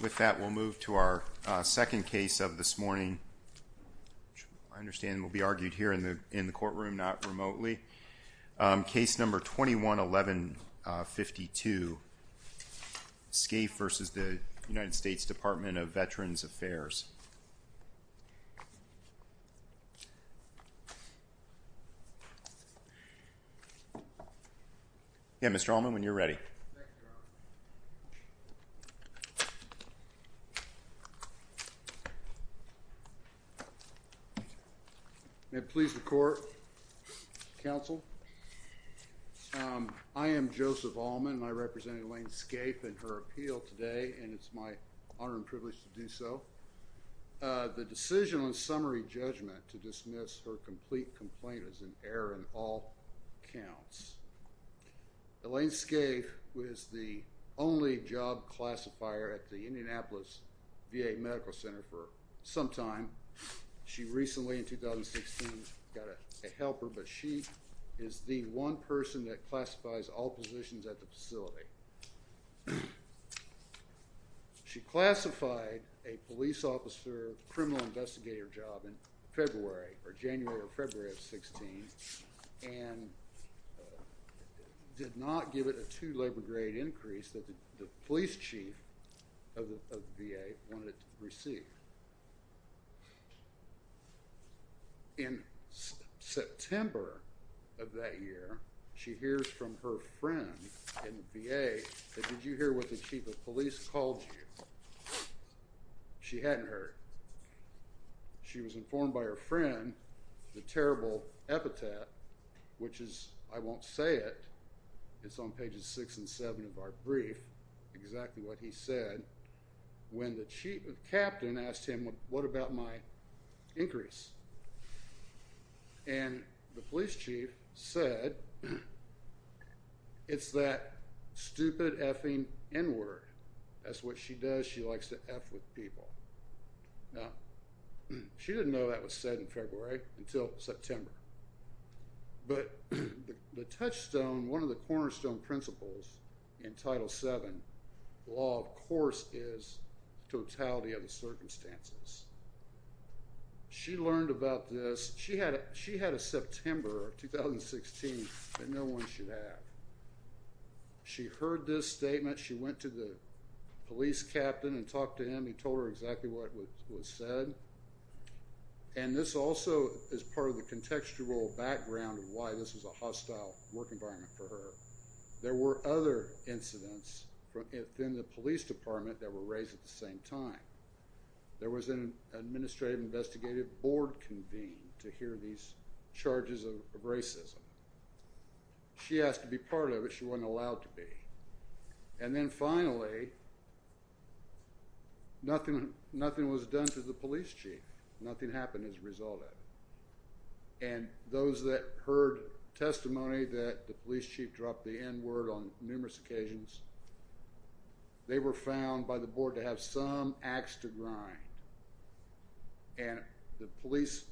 With that, we'll move to our second case of this morning. I understand it will be argued here in the courtroom, not remotely. Case number 21-1152, Scaife v. the United States Department of Veterans Affairs. Yeah, Mr. Allman, when you're ready. May it please the court, counsel, I am Joseph Allman. I represent Elaine Scaife in her appeal today, and it's my honor and privilege to do so. The decision on summary judgment to dismiss her complete complaint is an error in all counts. Elaine Scaife was the only job classifier at the Indianapolis VA Medical Center for some time. She recently, in 2016, got a helper, but she is the one person that classifies all positions at the facility. She classified a police officer criminal investigator job in February, or January or February of 16, and did not give it a two labor grade increase that the police chief of the VA wanted it to receive. In September of that year, she hears from her friend in the VA, that did you hear what the chief of police called you? She hadn't heard. She was informed by her friend, the terrible epithet, which is, I won't say it, it's on pages six and seven of our brief, exactly what he said, when the chief of captain asked him, what about my increase? And the police chief said, it's that stupid effing N-word. That's what she does, she likes to F with people. Now, she didn't know that was said in February until September. But the touchstone, one of the cornerstone principles in Title VII, law of course is totality of the circumstances. She learned about this, she had a September of 2016 that no one should have. She heard this statement, she went to the police captain and talked to him, he told her exactly what was said. And this also is part of the contextual background of why this was a hostile work environment for her. There were other incidents within the police department that were raised at the same time. There was an administrative investigative board convened to hear these charges of racism. She has to be part of it, she wasn't allowed to be. And then finally, nothing was done to the police chief, nothing happened as a result of it. And those that heard testimony that the police chief dropped the N-word on numerous occasions, they were found by the board to have some ax to grind. And the police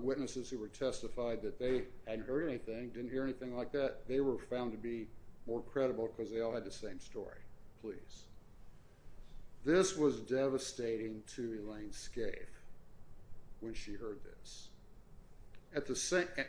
witnesses who were testified that they hadn't heard anything, didn't hear anything like that, they were found to be more credible because they all had the same story, please. This was devastating to Elaine Scaife when she heard this.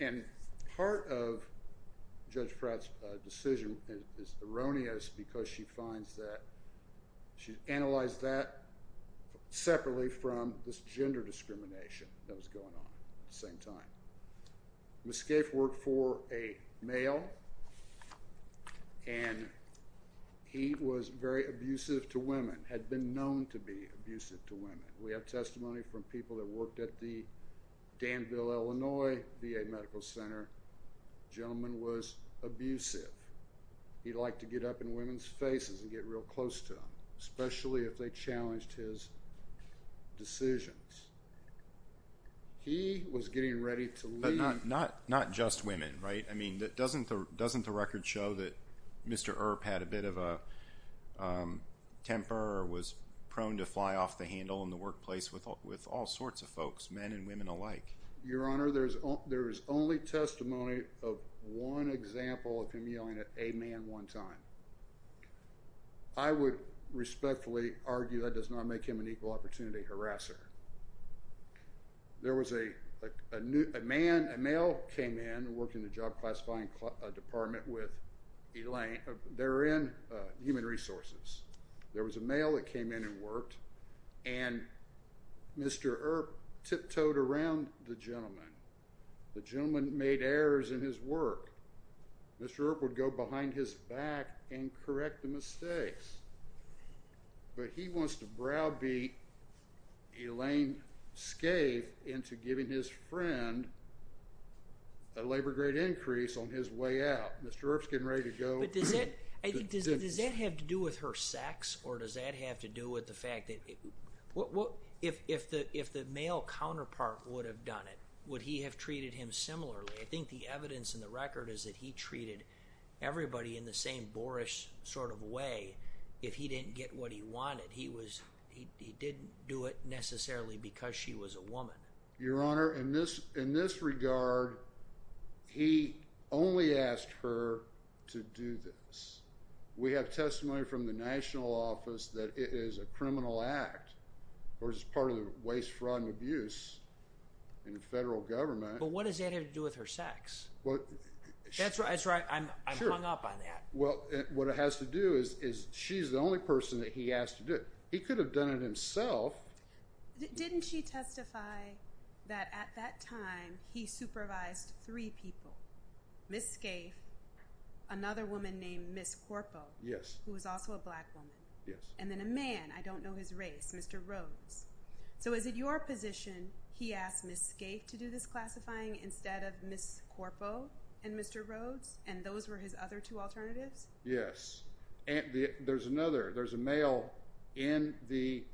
And part of Judge Pratt's decision is erroneous because she finds that, she analyzed that separately from this gender discrimination that was going on at the same time. Ms. Scaife worked for a male and he was very abusive to women, had been known to be abusive to women. We have testimony from people that worked at the Danville, Illinois VA Medical Center. Gentleman was abusive. He liked to get up in women's faces and get real close to them, especially if they challenged his decisions. He was getting ready to leave. Not just women, right? I mean, doesn't the record show that Mr. Earp had a bit of a temper or was prone to fly off the handle in the workplace with all sorts of folks, men and women alike? Your Honor, there is only testimony of one example of him yelling at a man one time. I would respectfully argue that does not make him an equal opportunity harasser. There was a man, a male came in and worked in the job classifying department with Elaine, they were in human resources. There was a male that came in and worked and Mr. Earp tiptoed around the gentleman. The gentleman made errors in his work. and correct the mistakes. But he wants to browbeat Elaine Scaife into giving his friend a labor grade increase on his way out. Mr. Earp's getting ready to go. But does that have to do with her sex or does that have to do with the fact that, if the male counterpart would have done it, would he have treated him similarly? I think the evidence in the record is that he treated everybody in the same boorish sort of way if he didn't get what he wanted. He was, he didn't do it necessarily because she was a woman. Your Honor, in this regard, he only asked her to do this. We have testimony from the national office that it is a criminal act or is part of the waste, fraud and abuse in the federal government. But what does that have to do with her sex? That's right, I'm hung up on that. Well, what it has to do is, she's the only person that he asked to do it. He could have done it himself. Didn't she testify that at that time he supervised three people, Ms. Scaife, another woman named Ms. Corpo, who was also a black woman, and then a man, I don't know his race, Mr. Rose. So is it your position he asked Ms. Scaife to do this classifying instead of Ms. Corpo and Mr. Rose and those were his other two alternatives? Yes, and there's another, there's a male in the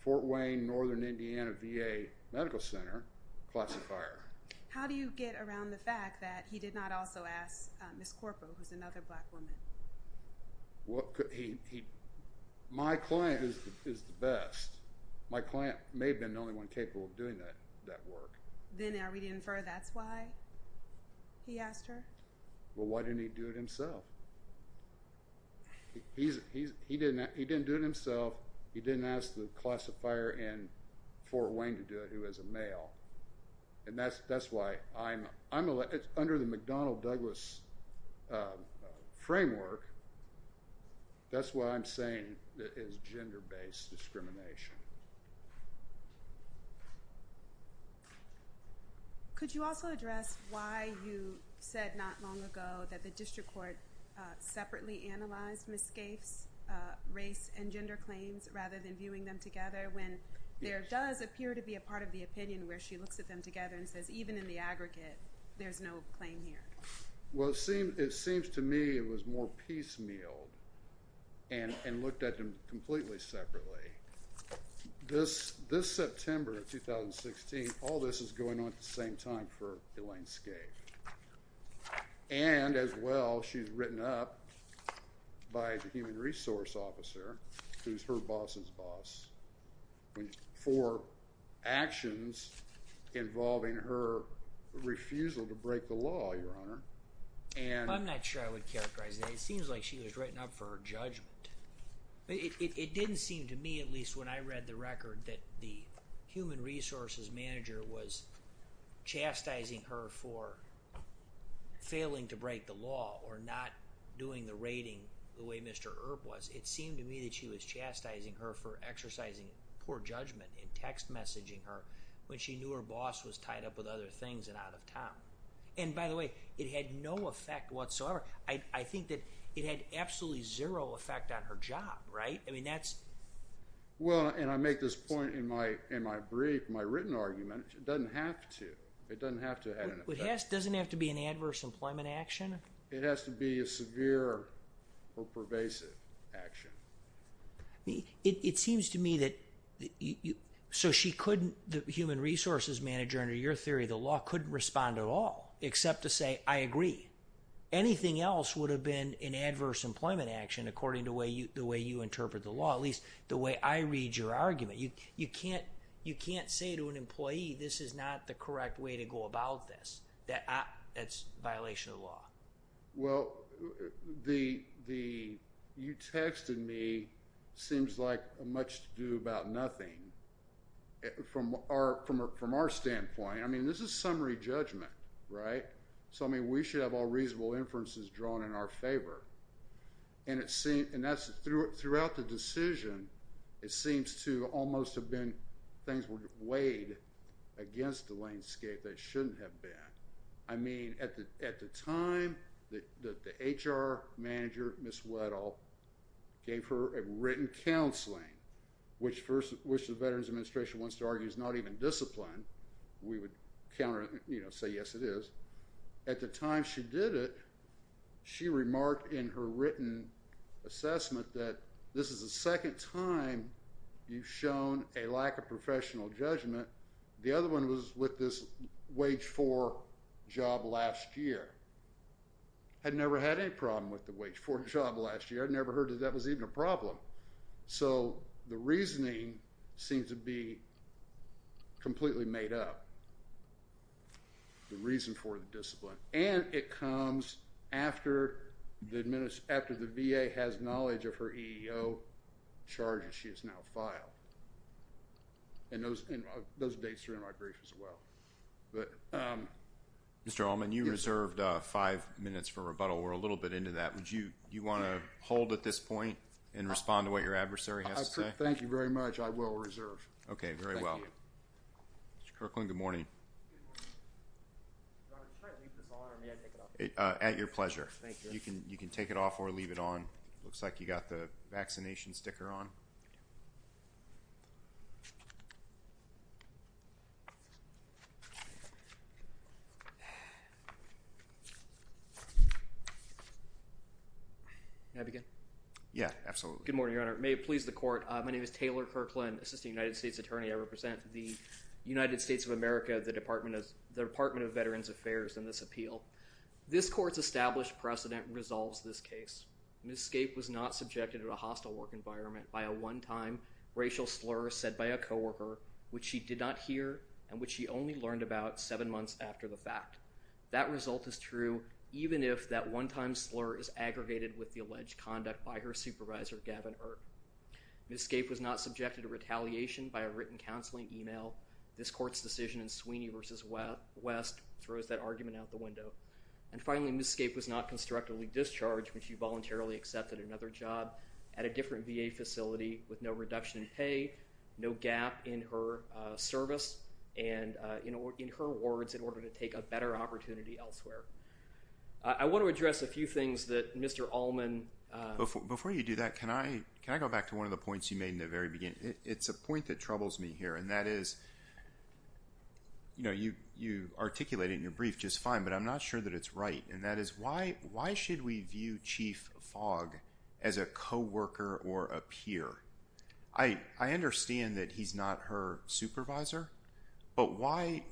Fort Wayne, Northern Indiana VA Medical Center classifier. How do you get around the fact that he did not also ask Ms. Corpo, who's another black woman? My client is the best. My client may have been the only one capable of doing that work. Then are we to infer that's why he asked her? Well, why didn't he do it himself? He didn't do it himself. He didn't ask the classifier in Fort Wayne to do it, who is a male. And that's why I'm, under the McDonnell-Douglas framework, that's why I'm saying that it's gender-based discrimination. Could you also address why you said not long ago that the district court separately analyzed Ms. Scaife's race and gender claims rather than viewing them together when there does appear to be a part of the opinion where she looks at them together and says, even in the aggregate, there's no claim here. Well, it seems to me it was more piecemealed and looked at them completely separately. This September of 2016, all this is going on at the same time for Elaine Scaife. And as well, she's written up by the human resource officer, who's her boss's boss, for actions involving her refusal to break the law, Your Honor. I'm not sure I would characterize that. It seems like she was written up for her judgment. It didn't seem to me, at least when I read the record, that the human resources manager was chastising her for failing to break the law or not doing the rating the way Mr. Earp was. It seemed to me that she was chastising her for exercising poor judgment and text messaging her when she knew her boss was tied up with other things and out of town. And by the way, it had no effect whatsoever. I think that it had absolutely zero effect on her job, right, I mean, that's... Well, and I make this point in my brief, my written argument, it doesn't have to. It doesn't have to have an effect. It doesn't have to be an adverse employment action? It has to be a severe or pervasive action. It seems to me that, so she couldn't, the human resources manager, under your theory, the law couldn't respond at all except to say, I agree. Anything else would have been an adverse employment action according to the way you interpret the law, at least the way I read your argument. You can't say to an employee, this is not the correct way to go about this, that's violation of the law. Well, the, you texted me, seems like much to do about nothing from our standpoint. I mean, this is summary judgment, right? So, I mean, we should have all reasonable inferences drawn in our favor. And it seemed, and that's, throughout the decision, it seems to almost have been things were weighed against the landscape that shouldn't have been. I mean, at the time, the HR manager, Ms. Weddle, gave her a written counseling, which the Veterans Administration wants to argue is not even disciplined. We would counter, you know, say, yes, it is. At the time she did it, she remarked in her written assessment that this is the second time you've shown a lack of professional judgment. The other one was with this wage four job last year. Had never had any problem with the wage four job last year. I'd never heard that that was even a problem. So, the reasoning seems to be completely made up. The reason for the discipline. And it comes after the VA has knowledge of her EEO charges she has now filed. And those dates are in my brief as well. Mr. Allman, you reserved five minutes for rebuttal. We're a little bit into that. Do you want to hold at this point and respond to what your adversary has to say? Thank you very much. I will reserve. Okay, very well. Thank you. Mr. Kirkland, good morning. Good morning. Do I try to leave this on or may I take it off? At your pleasure. Thank you. You can take it off or leave it on. Looks like you got the vaccination sticker on. Can I begin? Yeah, absolutely. Good morning, Your Honor. May it please the court. My name is Taylor Kirkland, Assistant United States Attorney. I represent the United States of America, the Department of Veterans Affairs in this appeal. This court's established precedent resolves this case. Ms. Scape was not subjected to a hostile work environment by a one-time racial slur said by a coworker, which she did not hear and which she only learned about seven months after the fact. That result is true even if that one-time slur is aggregated with the alleged conduct by her supervisor, Gavin Earp. Ms. Scape was not subjected to retaliation by a written counseling email. This court's decision in Sweeney v. West throws that argument out the window. And finally, Ms. Scape was not constructively discharged when she voluntarily accepted another job at a different VA facility with no reduction in pay, no gap in her service and in her words in order to take a better opportunity elsewhere. I want to address a few things that Mr. Allman... Before you do that, can I go back to one of the points you made in the very beginning? It's a point that troubles me here, and that is, you know, you articulate it in your brief just fine, but I'm not sure that it's right, and that is why should we view Chief Fogg as a coworker or a peer? I understand that he's not her supervisor, but why,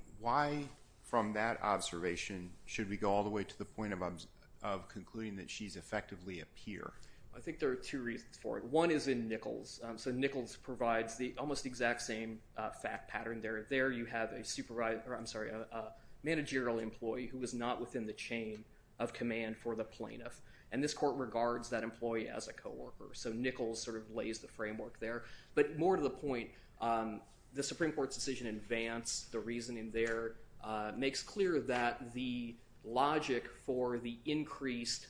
from that observation, should we go all the way to the point of concluding that she's effectively a peer? I think there are two reasons for it. One is in Nichols, so Nichols provides the almost exact same fact pattern there. There you have a managerial employee who is not within the chain of command for the plaintiff, and this court regards that employee as a coworker. So Nichols sort of lays the framework there. But more to the point, the Supreme Court's decision in Vance, the reasoning there makes clear that the logic for the increased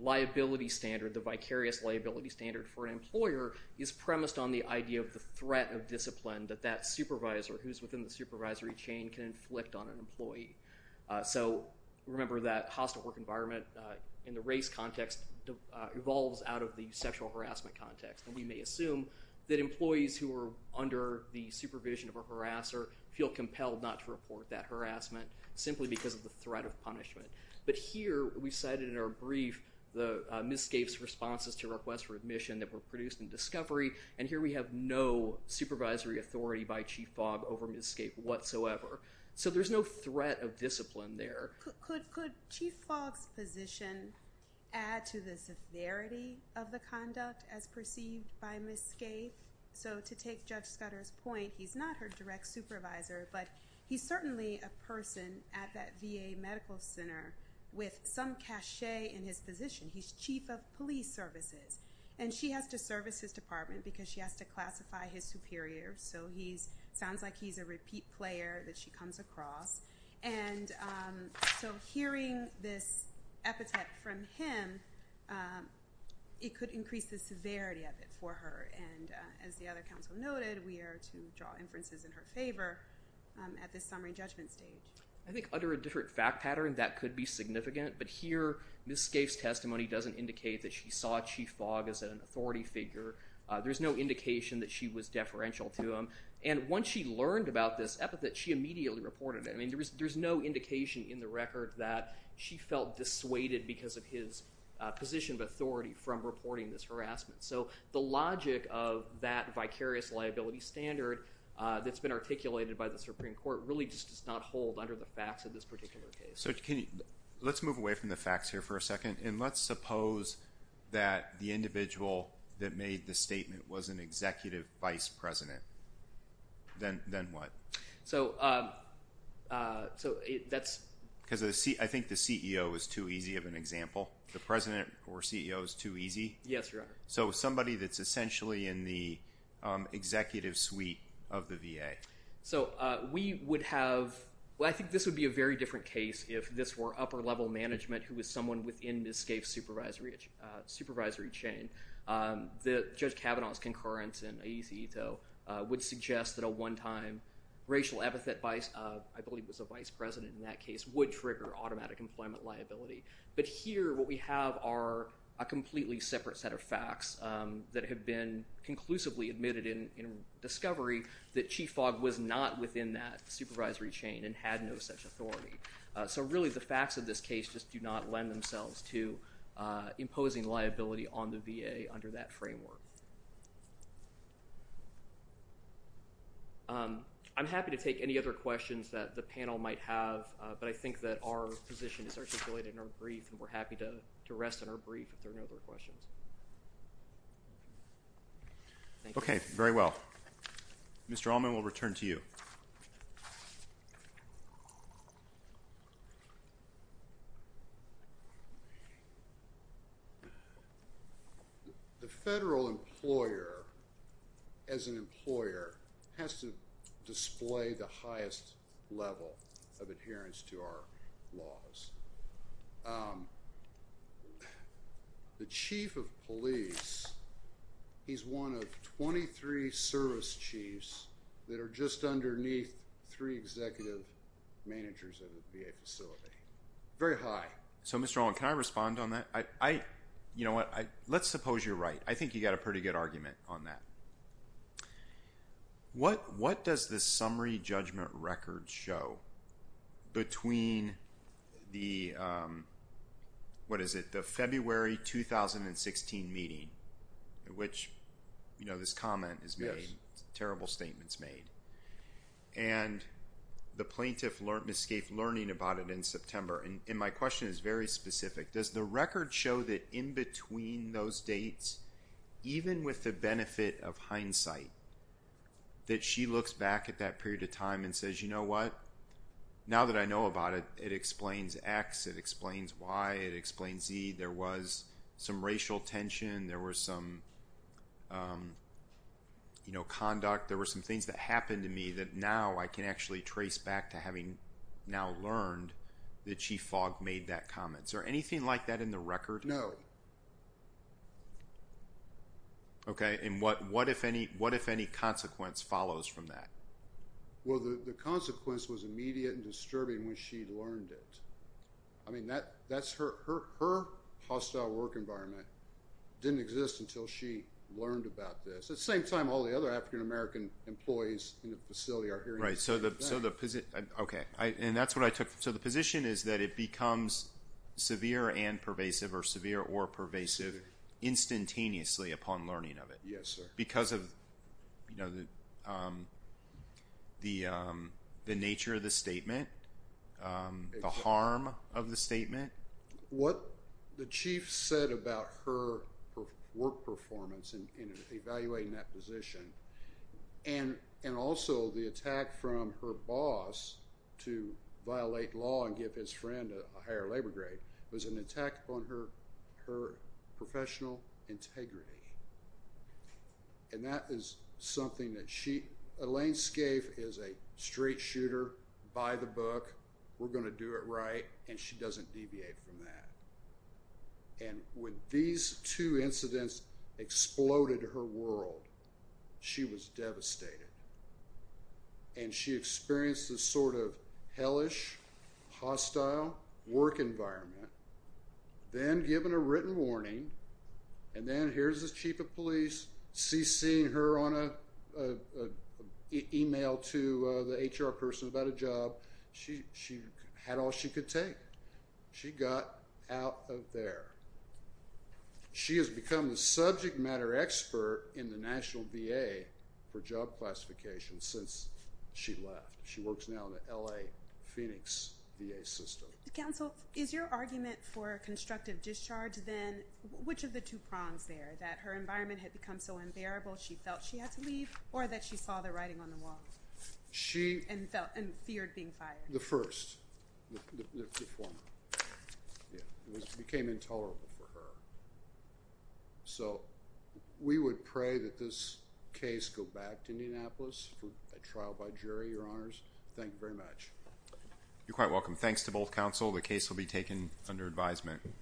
liability standard, the vicarious liability standard for an employer is premised on the idea of the threat of discipline that that supervisor who's within the supervisory chain can inflict on an employee. So remember that hostile work environment in the race context evolves out of the sexual harassment context, and we may assume that employees who are under the supervision of a harasser feel compelled not to report that harassment simply because of the threat of punishment. But here we cited in our brief Ms. Scaife's responses to requests for admission that were produced in discovery, and here we have no supervisory authority by Chief Fogg over Ms. Scaife whatsoever. So there's no threat of discipline there. Could Chief Fogg's position add to the severity of the conduct as perceived by Ms. Scaife? So to take Judge Scudder's point, he's not her direct supervisor, but he's certainly a person at that VA Medical Center with some cachet in his position. He's Chief of Police Services, and she has to service his department because she has to classify his superiors. So he sounds like he's a repeat player that she comes across. And so hearing this epithet from him, it could increase the severity of it for her. And as the other counsel noted, we are to draw inferences in her favor at this summary judgment stage. I think under a different fact pattern, that could be significant. But here Ms. Scaife's testimony doesn't indicate that she saw Chief Fogg as an authority figure. There's no indication that she was deferential to him. And once she learned about this epithet, she immediately reported it. I mean, there's no indication in the record that she felt dissuaded because of his position of authority from reporting this harassment. So the logic of that vicarious liability standard that's been articulated by the Supreme Court really just does not hold under the facts of this particular case. So can you, let's move away from the facts here for a second, and let's suppose that the individual that made the statement was an executive vice president. Then what? So that's. Because I think the CEO is too easy of an example. The president or CEO is too easy. Yes, Your Honor. So somebody that's essentially in the executive suite of the VA. So we would have, well, I think this would be a very different case if this were upper-level management who was someone within Ms. Scaife's supervisory chain. The Judge Kavanaugh's concurrence in Aesi Ito would suggest that a one-time racial epithet vice, I believe was a vice president in that case, would trigger automatic employment liability. But here what we have are a completely separate set of facts that have been conclusively admitted in discovery that Chief Fogg was not within that supervisory chain and had no such authority. So really the facts of this case just do not lend themselves to imposing liability on the VA under that framework. I'm happy to take any other questions that the panel might have, but I think that our position is articulated in our brief, and we're happy to rest on our brief if there are no other questions. Thank you. Okay, very well. Mr. Allman, we'll return to you. The federal employer, as an employer, has to display the highest level of adherence to our laws. The chief of police, he's one of 23 service chiefs that are just underneath three executive managers of the VA facility, very high. So Mr. Allman, can I respond on that? You know what, let's suppose you're right. I think you got a pretty good argument on that. What does the summary judgment record show between the, what is it, the February 2016 meeting, which, you know, this comment is made, terrible statements made, and the plaintiff escaped learning about it in September. And my question is very specific. Does the record show that in between those dates, even with the benefit of hindsight, that she looks back at that period of time and says, you know what, now that I know about it, it explains X, it explains Y, it explains Z, there was some racial tension, there was some, you know, conduct, there were some things that happened to me that now I can actually trace back to having now learned that Chief Fogg made that comment. Is there anything like that in the record? No. Okay, and what if any consequence follows from that? Well, the consequence was immediate and disturbing when she learned it. I mean, that's her, her hostile work environment didn't exist until she learned about this. At the same time, all the other African American employees in the facility are hearing that. Right, so the, okay, and that's what I took. So the position is that it becomes severe and pervasive, or severe or pervasive, instantaneously upon learning of it. Yes, sir. Because of, you know, the nature of the statement, the harm of the statement? What the chief said about her work performance in evaluating that position, and also the attack from her boss to violate law and give his friend a higher labor grade, was an attack on her professional integrity. And that is something that she, Elaine Scaife is a straight shooter by the book, we're gonna do it right, and she doesn't deviate from that. And when these two incidents exploded her world, she was devastated. And she experienced this sort of hellish, hostile work environment, then given a written warning, and then here's the chief of police, CC'ing her on a email to the HR person about a job. She had all she could take. She got out of there. She has become the subject matter expert in the National VA for job classification since she left. She works now in the LA Phoenix VA system. Counsel, is your argument for constructive discharge then, which of the two prongs there, that her environment had become so unbearable, she felt she had to leave, or that she saw the writing on the wall? She- And feared being fired. The first, the former. Yeah, it became intolerable for her. So we would pray that this case go back to Indianapolis for a trial by jury, your honors. Thank you very much. You're quite welcome. Thanks to both counsel, the case will be taken under advisement.